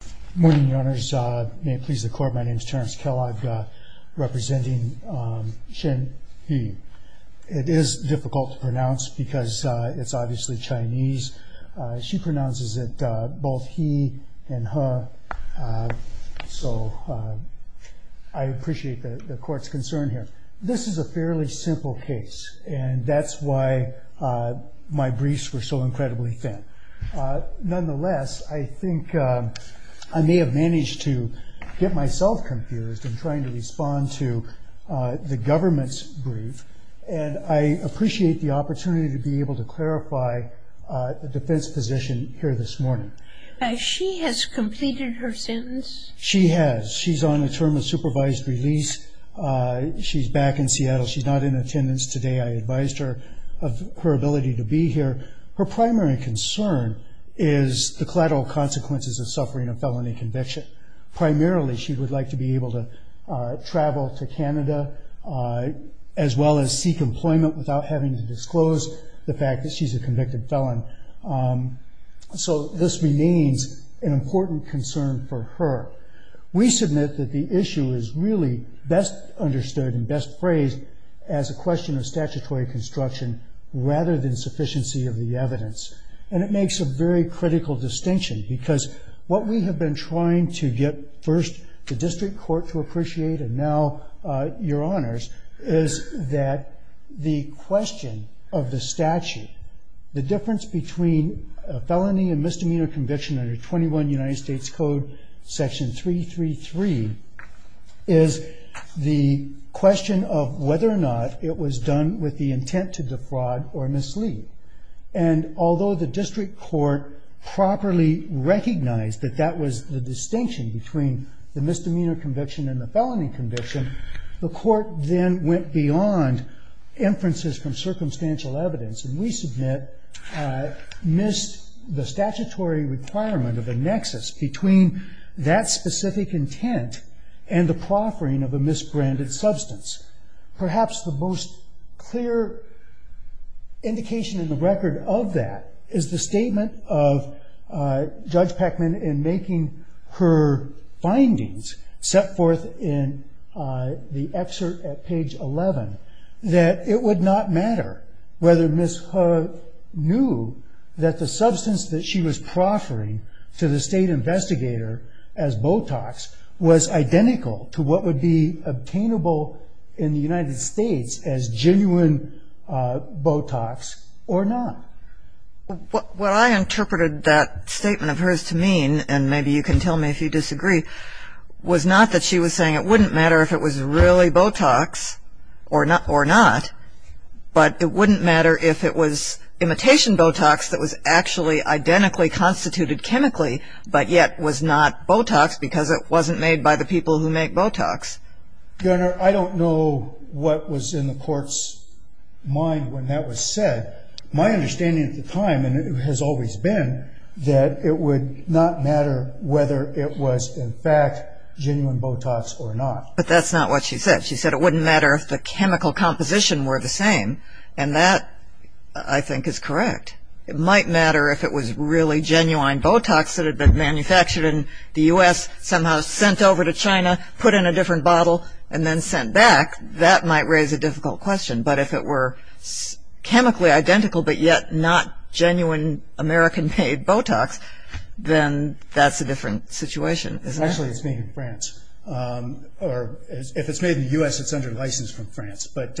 Good morning, your honors. May it please the court, my name is Terrence Kellogg representing Xin He. It is difficult to pronounce because it's obviously Chinese. She pronounces it both he and her so I appreciate the court's concern here. This is a fairly simple case and that's why my briefs were so incredibly thin. Nonetheless, I think I may have managed to get myself confused in trying to respond to the government's brief and I appreciate the opportunity to be able to clarify the defense position here this morning. She has completed her sentence? She has. She's on a term of supervised release. She's back in Seattle. She's not in attendance today. I advised her of her ability to be here. Her primary concern is the collateral consequences of suffering a felony conviction. Primarily she would like to be able to travel to Canada as well as seek employment without having to disclose the fact that she's a convicted felon. So this remains an important concern for her. We submit that the issue is really best understood and best phrased as a question of statutory construction rather than sufficiency of the evidence and it makes a very critical distinction because what we have been trying to get first the district court to appreciate and now your honors is that the question of the statute, the difference between a felony and misdemeanor conviction under 21 United States Code section 333 is the question of whether or not it was done with the intent to defraud or mislead and although the district court properly recognized that that was the distinction between the misdemeanor conviction and the felony conviction, the court then went beyond inferences from circumstantial evidence and we submit missed the statutory requirement of a nexus between that specific intent and the proffering of a misbranded substance. Perhaps the most clear indication in the record of that is the statement of Judge Peckman in making her findings set forth in the excerpt at page 11 that it would not matter whether Ms. Hough knew that the substance that she was proffering to the state investigator as Botox was identical to what would be obtainable in the United States as genuine Botox or not. What I interpreted that statement of hers to mean, and maybe you can tell me if you disagree, was not that she was saying it wouldn't matter if it was really Botox or not, but it wouldn't matter if it was imitation Botox that was actually identically constituted chemically but yet was not Botox because it wasn't made by the people who make Botox. Your Honor, I don't know what was in the court's mind when that was said. My understanding at the time, and it has always been, that it would not matter whether it was in fact genuine Botox or not. But that's not what she said. She said it wouldn't matter if the chemical composition were the same and that I think is correct. It might matter if it was really genuine Botox that had been manufactured in the U.S., somehow sent over to China, put in a different bottle, and then sent back. That might raise a difficult question. But if it were chemically identical but yet not genuine American-made Botox, then that's a different situation. Actually, it's made in France. If it's made in the U.S., it's under license from France. But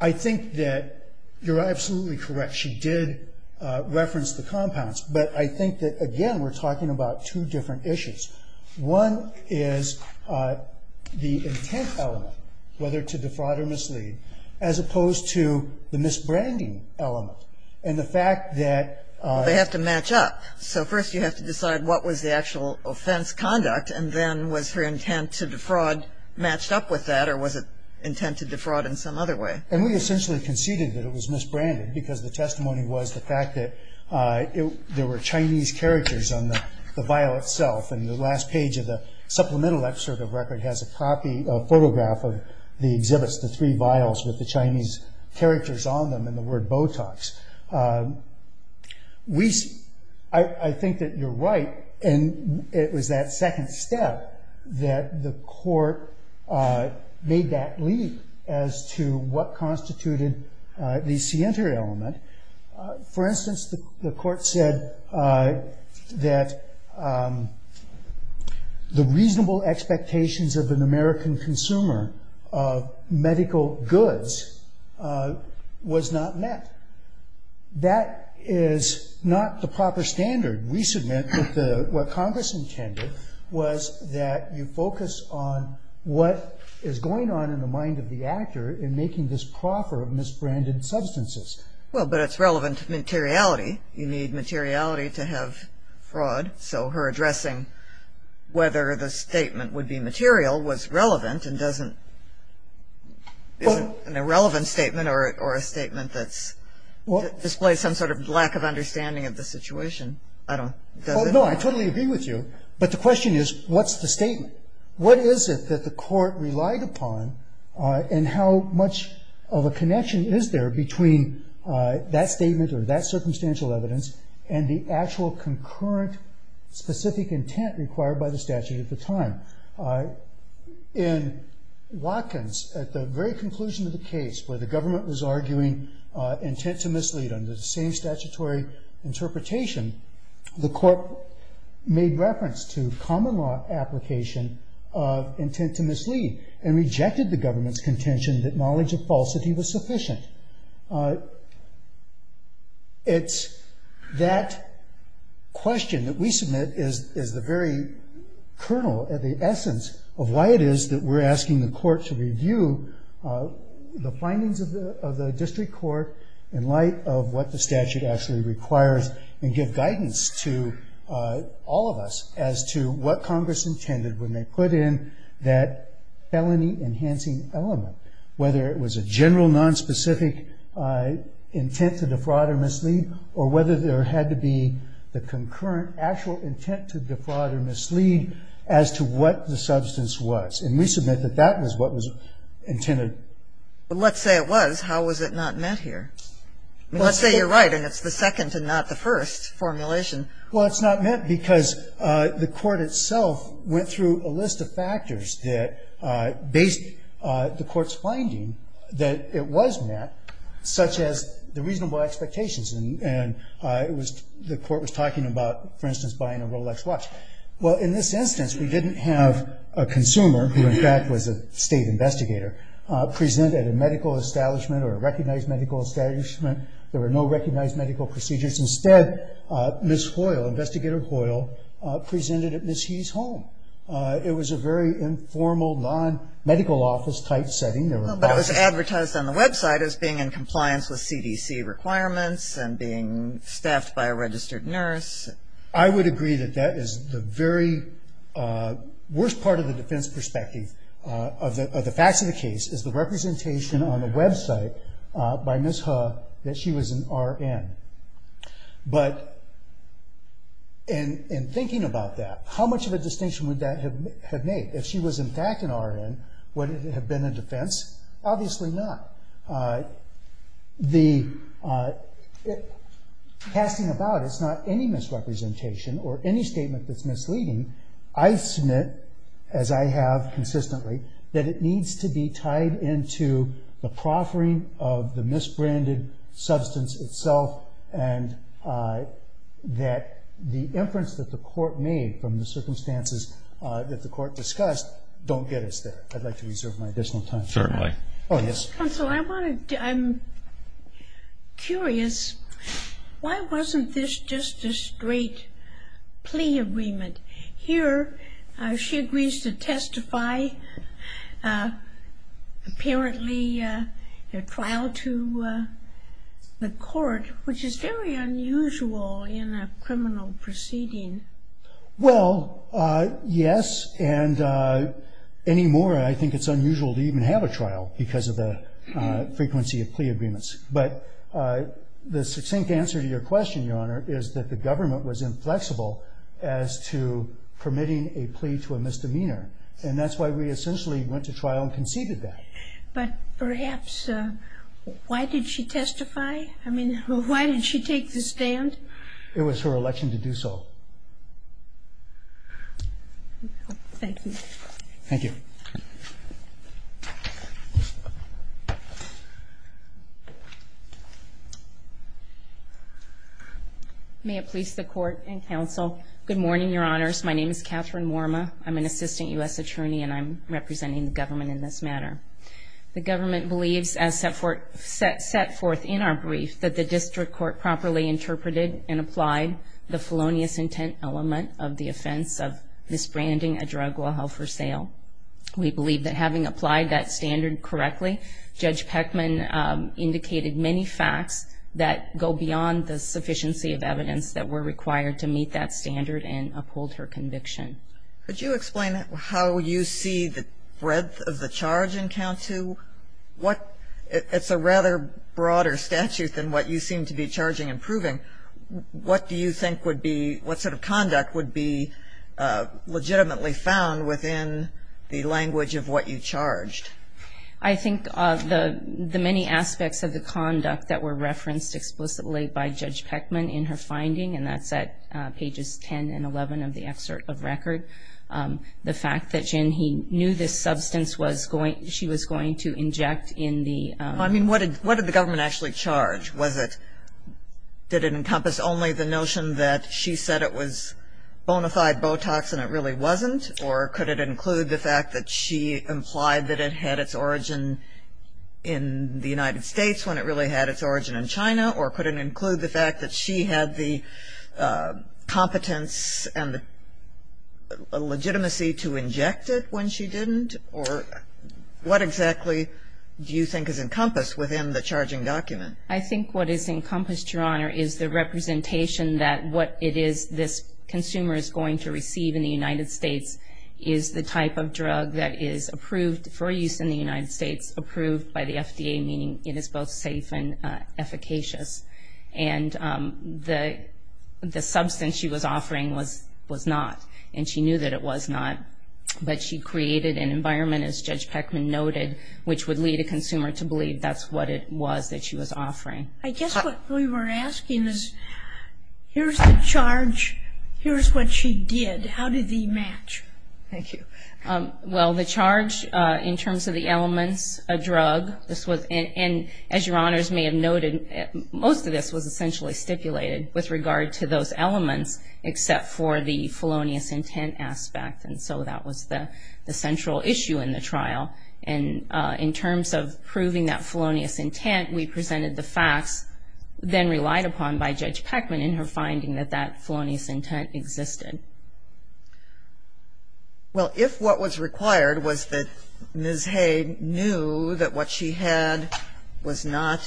I think that you're absolutely correct. She did reference the compounds. But I think that, again, we're talking about two different issues. One is the intent element, whether to defraud or mislead, as opposed to the misbranding element and the fact that... They have to match up. So first you have to decide what was the actual offense conduct and then was her intent to defraud matched up with that or was it intent to defraud in some other way? And we essentially conceded that it was misbranded because the testimony was the fact that there were Chinese characters on the vial itself. And the last page of the supplemental excerpt of the record has a photograph of the exhibits, the three vials with the Chinese characters on them and the word Botox. I think that you're right. And it was that second step that the court made that leap as to what constituted the scienter element. For instance, the court said that the reasonable expectations of an American consumer of medical goods was not met. That is not the proper standard. We submit that what Congress intended was that you focus on what is going on in the mind of the actor in making this proffer of misbranded substances. Well, but it's relevant to materiality. You need materiality to have fraud. So her addressing whether the statement would be material was relevant and isn't an irrelevant statement or a statement that displays some sort of lack of understanding of the situation. I don't know. I totally agree with you. But the question is, what's the statement? What is it that the court relied upon and how much of a connection is there between that statement or that circumstantial evidence and the actual concurrent specific intent required by the statute at the time? In Watkins, at the very conclusion of the case where the government was arguing intent to mislead under the same statutory interpretation, the court made reference to common law application of intent to mislead and rejected the government's contention that knowledge of falsity was sufficient. It's that question that we submit is the very kernel of the essence of why it is that we're asking the court to review the findings of the district court in light of what the statute actually requires and give guidance to all of us as to what Congress intended when they put in that felony enhancing element, whether it was a general nonspecific intent to defraud or mislead or whether there had to be the concurrent actual intent to defraud or mislead as to what the substance was. And we submit that that was what was intended. But let's say it was. How was it not met here? Let's say you're right and it's the second and not the first formulation. Well, it's not met because the court itself went through a list of factors that based the court's finding that it was met, such as the reasonable expectations. And the court was talking about, for instance, buying a was a state investigator, presented at a medical establishment or a recognized medical establishment. There were no recognized medical procedures. Instead, Ms. Hoyle, Investigator Hoyle, presented at Ms. He's home. It was a very informal non-medical office type setting. But it was advertised on the website as being in compliance with CDC requirements and being staffed by a registered nurse. I would agree that that is the very worst part of the defense perspective of the facts of the case is the representation on the website by Ms. He that she was an RN. But in thinking about that, how much of a distinction would that have made? If she was in fact an RN, would it have been a defense? Obviously not. Casting about, it's not any misrepresentation or any statement that's misleading. I submit, as I have consistently, that it needs to be tied into the proffering of the misbranded substance itself and that the inference that the court made from the circumstances that the court discussed don't get us there. I'd like to reserve my additional time. Certainly. Oh, yes. Counselor, I'm curious. Why wasn't this just a straight plea agreement? Here, she agrees to testify, apparently a trial to the court, which is very unusual in a criminal proceeding. Well, yes, and any more, I think it's unusual to even have a trial because of the frequency of plea agreements. But the succinct answer to your question, Your Honor, is that the government was inflexible as to permitting a plea to a misdemeanor. And that's why we essentially went to trial and conceded that. But perhaps, why did she testify? I mean, why did she take the stand? It was her election to do so. Thank you. Thank you. May it please the court and counsel. Good morning, Your Honors. My name is Catherine Worma. I'm an assistant U.S. attorney, and I'm representing the government in this matter. The government believes, as set forth in our brief, that the district court properly interpreted and applied the felonious intent element of the offense of misbranding a drug while held for sale. We believe that having applied that standard correctly, Judge Peckman indicated many facts that go beyond the sufficiency of evidence that were required to meet that standard and uphold her conviction. Could you explain how you see the breadth of the charge in count two? It's a rather broader statute than what you seem to be charging and proving. What do you think would be, what sort of conduct would be legitimately found within the language of what you charged? I think the many aspects of the conduct that were referenced explicitly by Judge Peckman in her finding, and that's at pages 10 and 11 of the excerpt of record, the fact that she knew this substance was going, she was going to inject in the... I mean, what did the government actually charge? Was it, did it encompass only the notion that she said it was bonafide Botox and it really wasn't? Or could it include the fact that she implied that it had its origin in the United States when it really had its origin in China? Or could it include the fact that she had the competence and the legitimacy to inject it when she didn't? Or what exactly do you think is encompassed within the charging document? I think what is encompassed, Your Honor, is the representation that what it is this consumer is going to receive in the United States is the type of drug that is approved for use in the United States, approved by the FDA, meaning it is both safe and efficacious. And the substance she was offering was not, and she knew that it was not, but she created an environment, as Judge Peckman noted, which would lead a consumer to believe that's what it was that she was offering. I guess what we were asking is, here's the charge. Here's what she did. How did they match? Thank you. Well, the charge in terms of the elements, a drug, this was, and as Your Honors may have noted, most of this was essentially stipulated with regard to those elements, except for the felonious intent aspect. And so that was the central issue in the trial. And in terms of proving that felonious intent, we presented the facts, then relied upon by Judge Peckman in her finding that that felonious intent existed. Well, if what was required was that Ms. Hay knew that what she had was not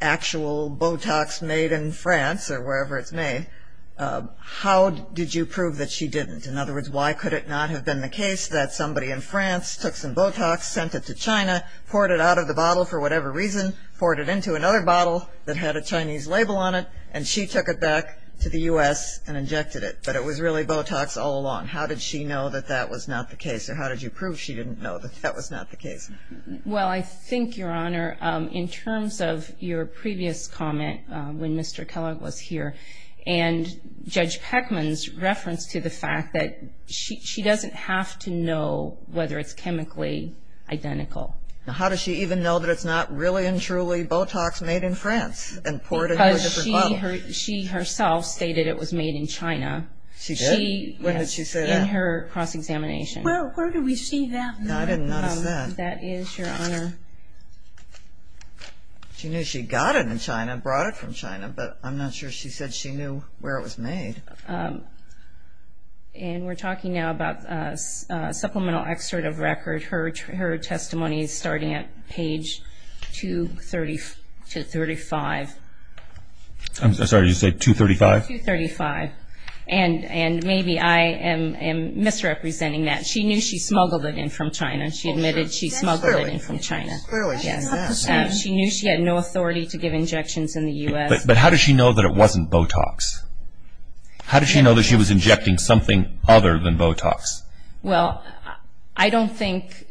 the actual Botox made in France, or wherever it's made, how did you prove that she didn't? In other words, why could it not have been the case that somebody in France took some Botox, sent it to China, poured it out of the bottle for whatever reason, poured it into another bottle that had a Chinese label on it, and she took it back to the U.S. and injected it, but it was really Botox all along. How did she know that that was not the case, or how did you prove she didn't know that that was not the case? Well, I think, Your Honor, in terms of your previous comment, when Mr. Kellogg was here, and Judge Peckman's reference to the fact that she doesn't have to know whether it's chemically identical. Now, how does she even know that it's not really and truly Botox made in France, and poured into a different bottle? Because she herself stated it was made in China. She did? When did she say that? In her cross-examination. Well, where do we see that? No, I didn't notice that. That is, Your Honor. She knew she got it in China, brought it from China, but I'm not sure she said she knew where it was made. And we're talking now about a supplemental excerpt of record. Her testimony is starting at page 235. I'm sorry, you said 235? 235. And maybe I am misrepresenting that. She knew she smuggled it in from China. She admitted she smuggled it in from China. Clearly, she's not the same. She knew she had no authority to give injections in the U.S. But how does she know that it wasn't Botox? How did she know that she was injecting something other than Botox? Well, I don't think,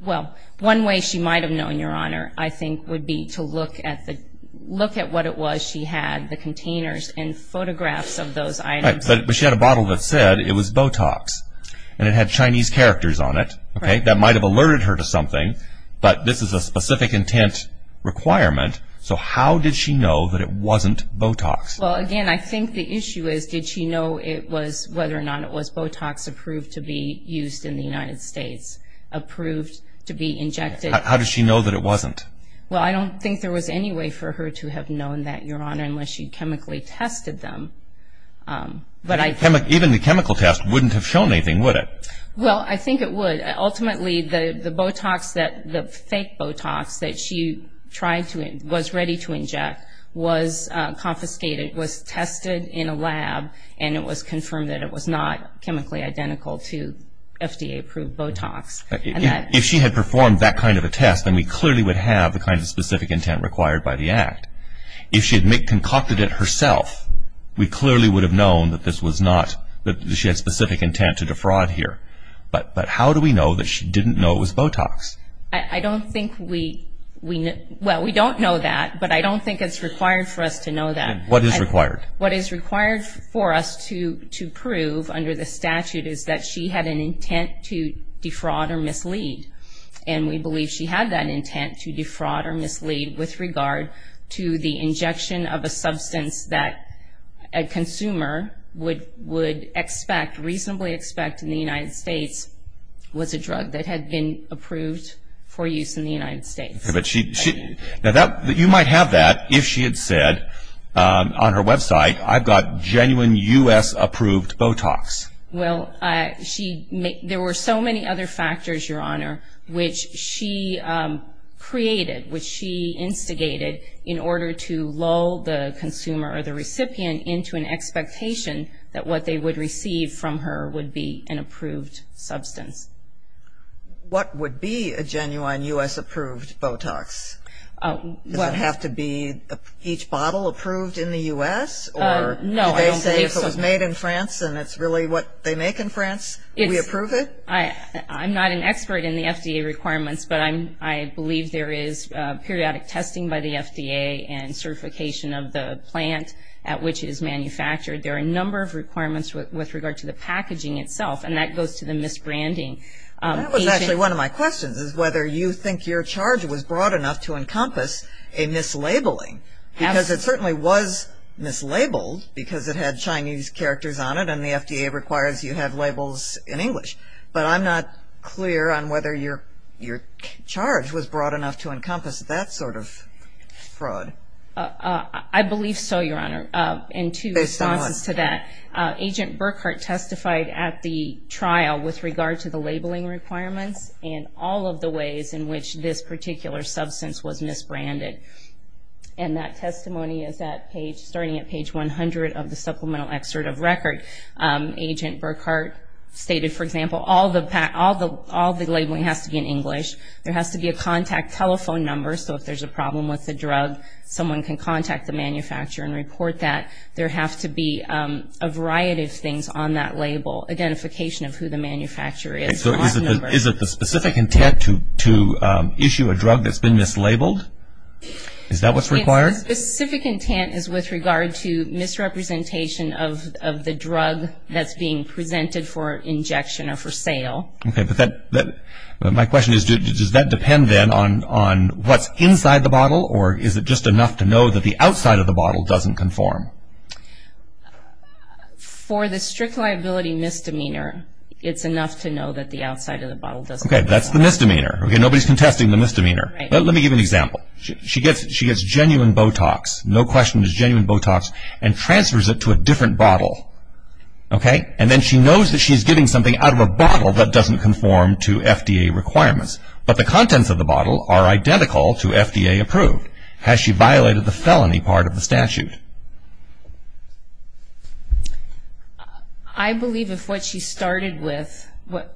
well, one way she might have known, Your Honor, I think would be to look at the, look at what it was she had, the containers and photographs of those items. Right, but she had a bottle that said it was Botox, and it had Chinese characters on it, okay, that might have alerted her to something, but this is a specific intent requirement. So how did she know that it wasn't Botox? Well, again, I think the issue is, did she know it was, whether or not it was Botox approved to be used in the United States, approved to be injected? How does she know that it wasn't? Well, I don't think there was any way for her to have known that, Your Honor, unless she chemically tested them. But I think... Even the chemical test wouldn't have shown anything, would it? Well, I think it would. Ultimately, the Botox that, the fake Botox that she tried to, was ready to inject, was confiscated, was tested in a lab, and it was confirmed that it was not chemically identical to FDA approved Botox. If she had performed that kind of a test, then we clearly would have the kind of specific intent required by the Act. If she had concocted it herself, we clearly would have known that this was not, that she had specific intent to defraud here. But how do we know that she didn't know it was Botox? I don't think we, well, we don't know that, but I don't think it's required for us to know that. What is required? What is required for us to prove under the statute is that she had an intent to defraud or mislead. And we believe she had that intent to defraud or mislead with regard to the fact that what we would expect, reasonably expect in the United States, was a drug that had been approved for use in the United States. But she, now that, you might have that if she had said on her website, I've got genuine U.S. approved Botox. Well, she, there were so many other factors, Your Honor, which she created, which she instigated in order to lull the consumer or the recipient into an expectation that what they would receive from her would be an approved substance. What would be a genuine U.S. approved Botox? Does it have to be each bottle approved in the U.S.? Or do they say if it was made in France and it's really what they make in France, do we approve it? I'm not an expert in the FDA requirements, but I believe there is periodic testing by the FDA and certification of the plant at which it is manufactured. There are a number of requirements with regard to the packaging itself, and that goes to the misbranding. That was actually one of my questions, is whether you think your charge was broad enough to encompass a mislabeling, because it certainly was mislabeled because it had Chinese characters on it and the FDA requires you have labels in English. But I'm not clear on whether your charge was broad enough to encompass that sort of fraud. I believe so, Your Honor, and two responses to that. Agent Burkhart testified at the trial with regard to the labeling requirements and all of the ways in which this particular substance was misbranded. And that testimony is starting at page 100 of the supplemental excerpt of record. Agent Burkhart stated, for example, all the labeling has to be in English. There has to be a contact telephone number. So if there's a problem with the drug, someone can contact the manufacturer and report that. There have to be a variety of things on that label, identification of who the manufacturer is. So is it the specific intent to issue a drug that's been mislabeled? Is that what's required? The specific intent is with regard to misrepresentation of the drug that's being presented for injection or for sale. Okay, but my question is, does that depend, then, on what's inside the bottle? Or is it just enough to know that the outside of the bottle doesn't conform? For the strict liability misdemeanor, it's enough to know that the outside of the bottle doesn't conform. Okay, that's the misdemeanor. Okay, nobody's contesting the misdemeanor. Right. Let me give you an example. She gets genuine Botox, no question, it's genuine Botox, and transfers it to a different bottle. Okay, and then she knows that she's getting something out of a bottle that doesn't conform to FDA requirements. But the contents of the bottle are identical to FDA approved. Has she violated the felony part of the statute? I believe if what she started with,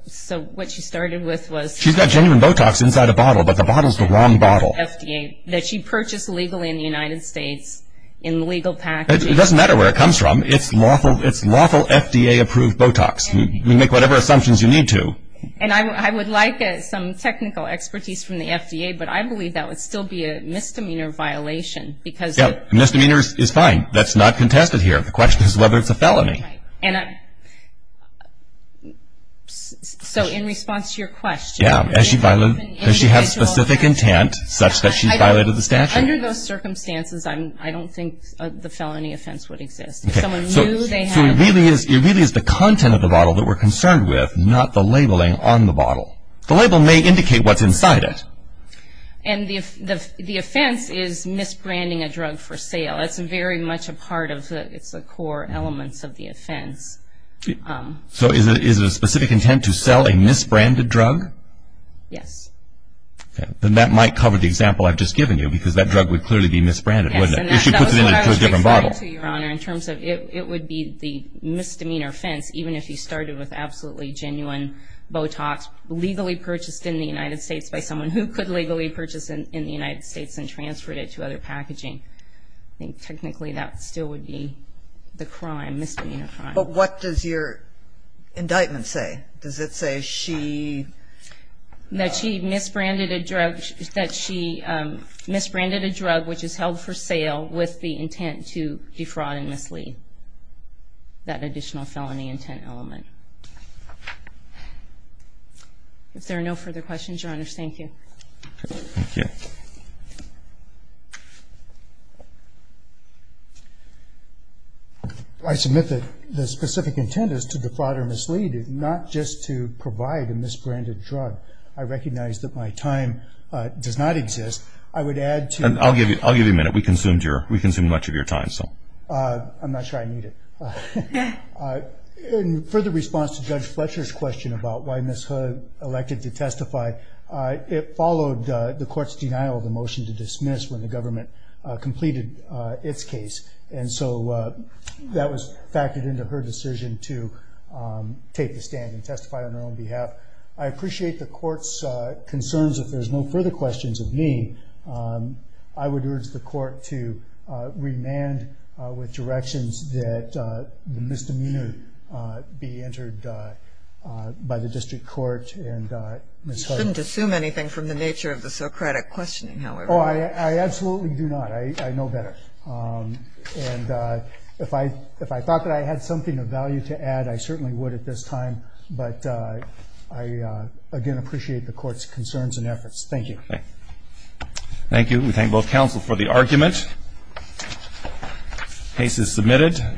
so what she started with was. She's got genuine Botox inside a bottle, but the bottle's the wrong bottle. FDA, that she purchased legally in the United States in legal packaging. It doesn't matter where it comes from. It's lawful FDA approved Botox. You make whatever assumptions you need to. And I would like some technical expertise from the FDA, but I believe that would still be a misdemeanor violation because. Yeah, misdemeanor is fine. That's not contested here. The question is whether it's a felony. Right, and so in response to your question. Yeah, has she violated, does she have specific intent such that she violated the statute? Under those circumstances, I don't think the felony offense would exist. If someone knew they had. So it really is the content of the bottle that we're concerned with, not the labeling on the bottle. The label may indicate what's inside it. And the offense is misbranding a drug for sale. That's very much a part of the, it's the core elements of the offense. So is it a specific intent to sell a misbranded drug? Yes. Okay, then that might cover the example I've just given you because that drug would clearly be misbranded, wouldn't it? If she puts it into a different bottle. To your honor, in terms of, it would be the misdemeanor offense, even if you started with absolutely genuine Botox, legally purchased in the United States by someone who could legally purchase in the United States and transferred it to other packaging. I think technically that still would be the crime, misdemeanor crime. But what does your indictment say? Does it say she. That she misbranded a drug, that she misbranded a drug which is held for sale with the intent to defraud and mislead. That additional felony intent element. If there are no further questions, your honor, thank you. Okay, thank you. I submit that the specific intent is to defraud or mislead, not just to provide a misbranded drug. I recognize that my time does not exist. I would add to. I'll give you a minute. We consumed your, we consumed much of your time, so. I'm not sure I need it. In further response to Judge Fletcher's question about why Ms. Hood elected to testify, it followed the court's denial of the motion to dismiss when the government completed its case. And so that was factored into her decision to take the stand and testify on her own behalf. I appreciate the court's concerns. If there's no further questions of me, I would urge the court to remand with directions that the misdemeanor be entered by the district court and Ms. Hood. I shouldn't assume anything from the nature of the Socratic questioning, however. Oh, I absolutely do not. I know better. And if I thought that I had something of value to add, I certainly would at this time. But I, again, appreciate the court's concerns and efforts. Thank you. Thank you. We thank both counsel for the argument. Case is submitted.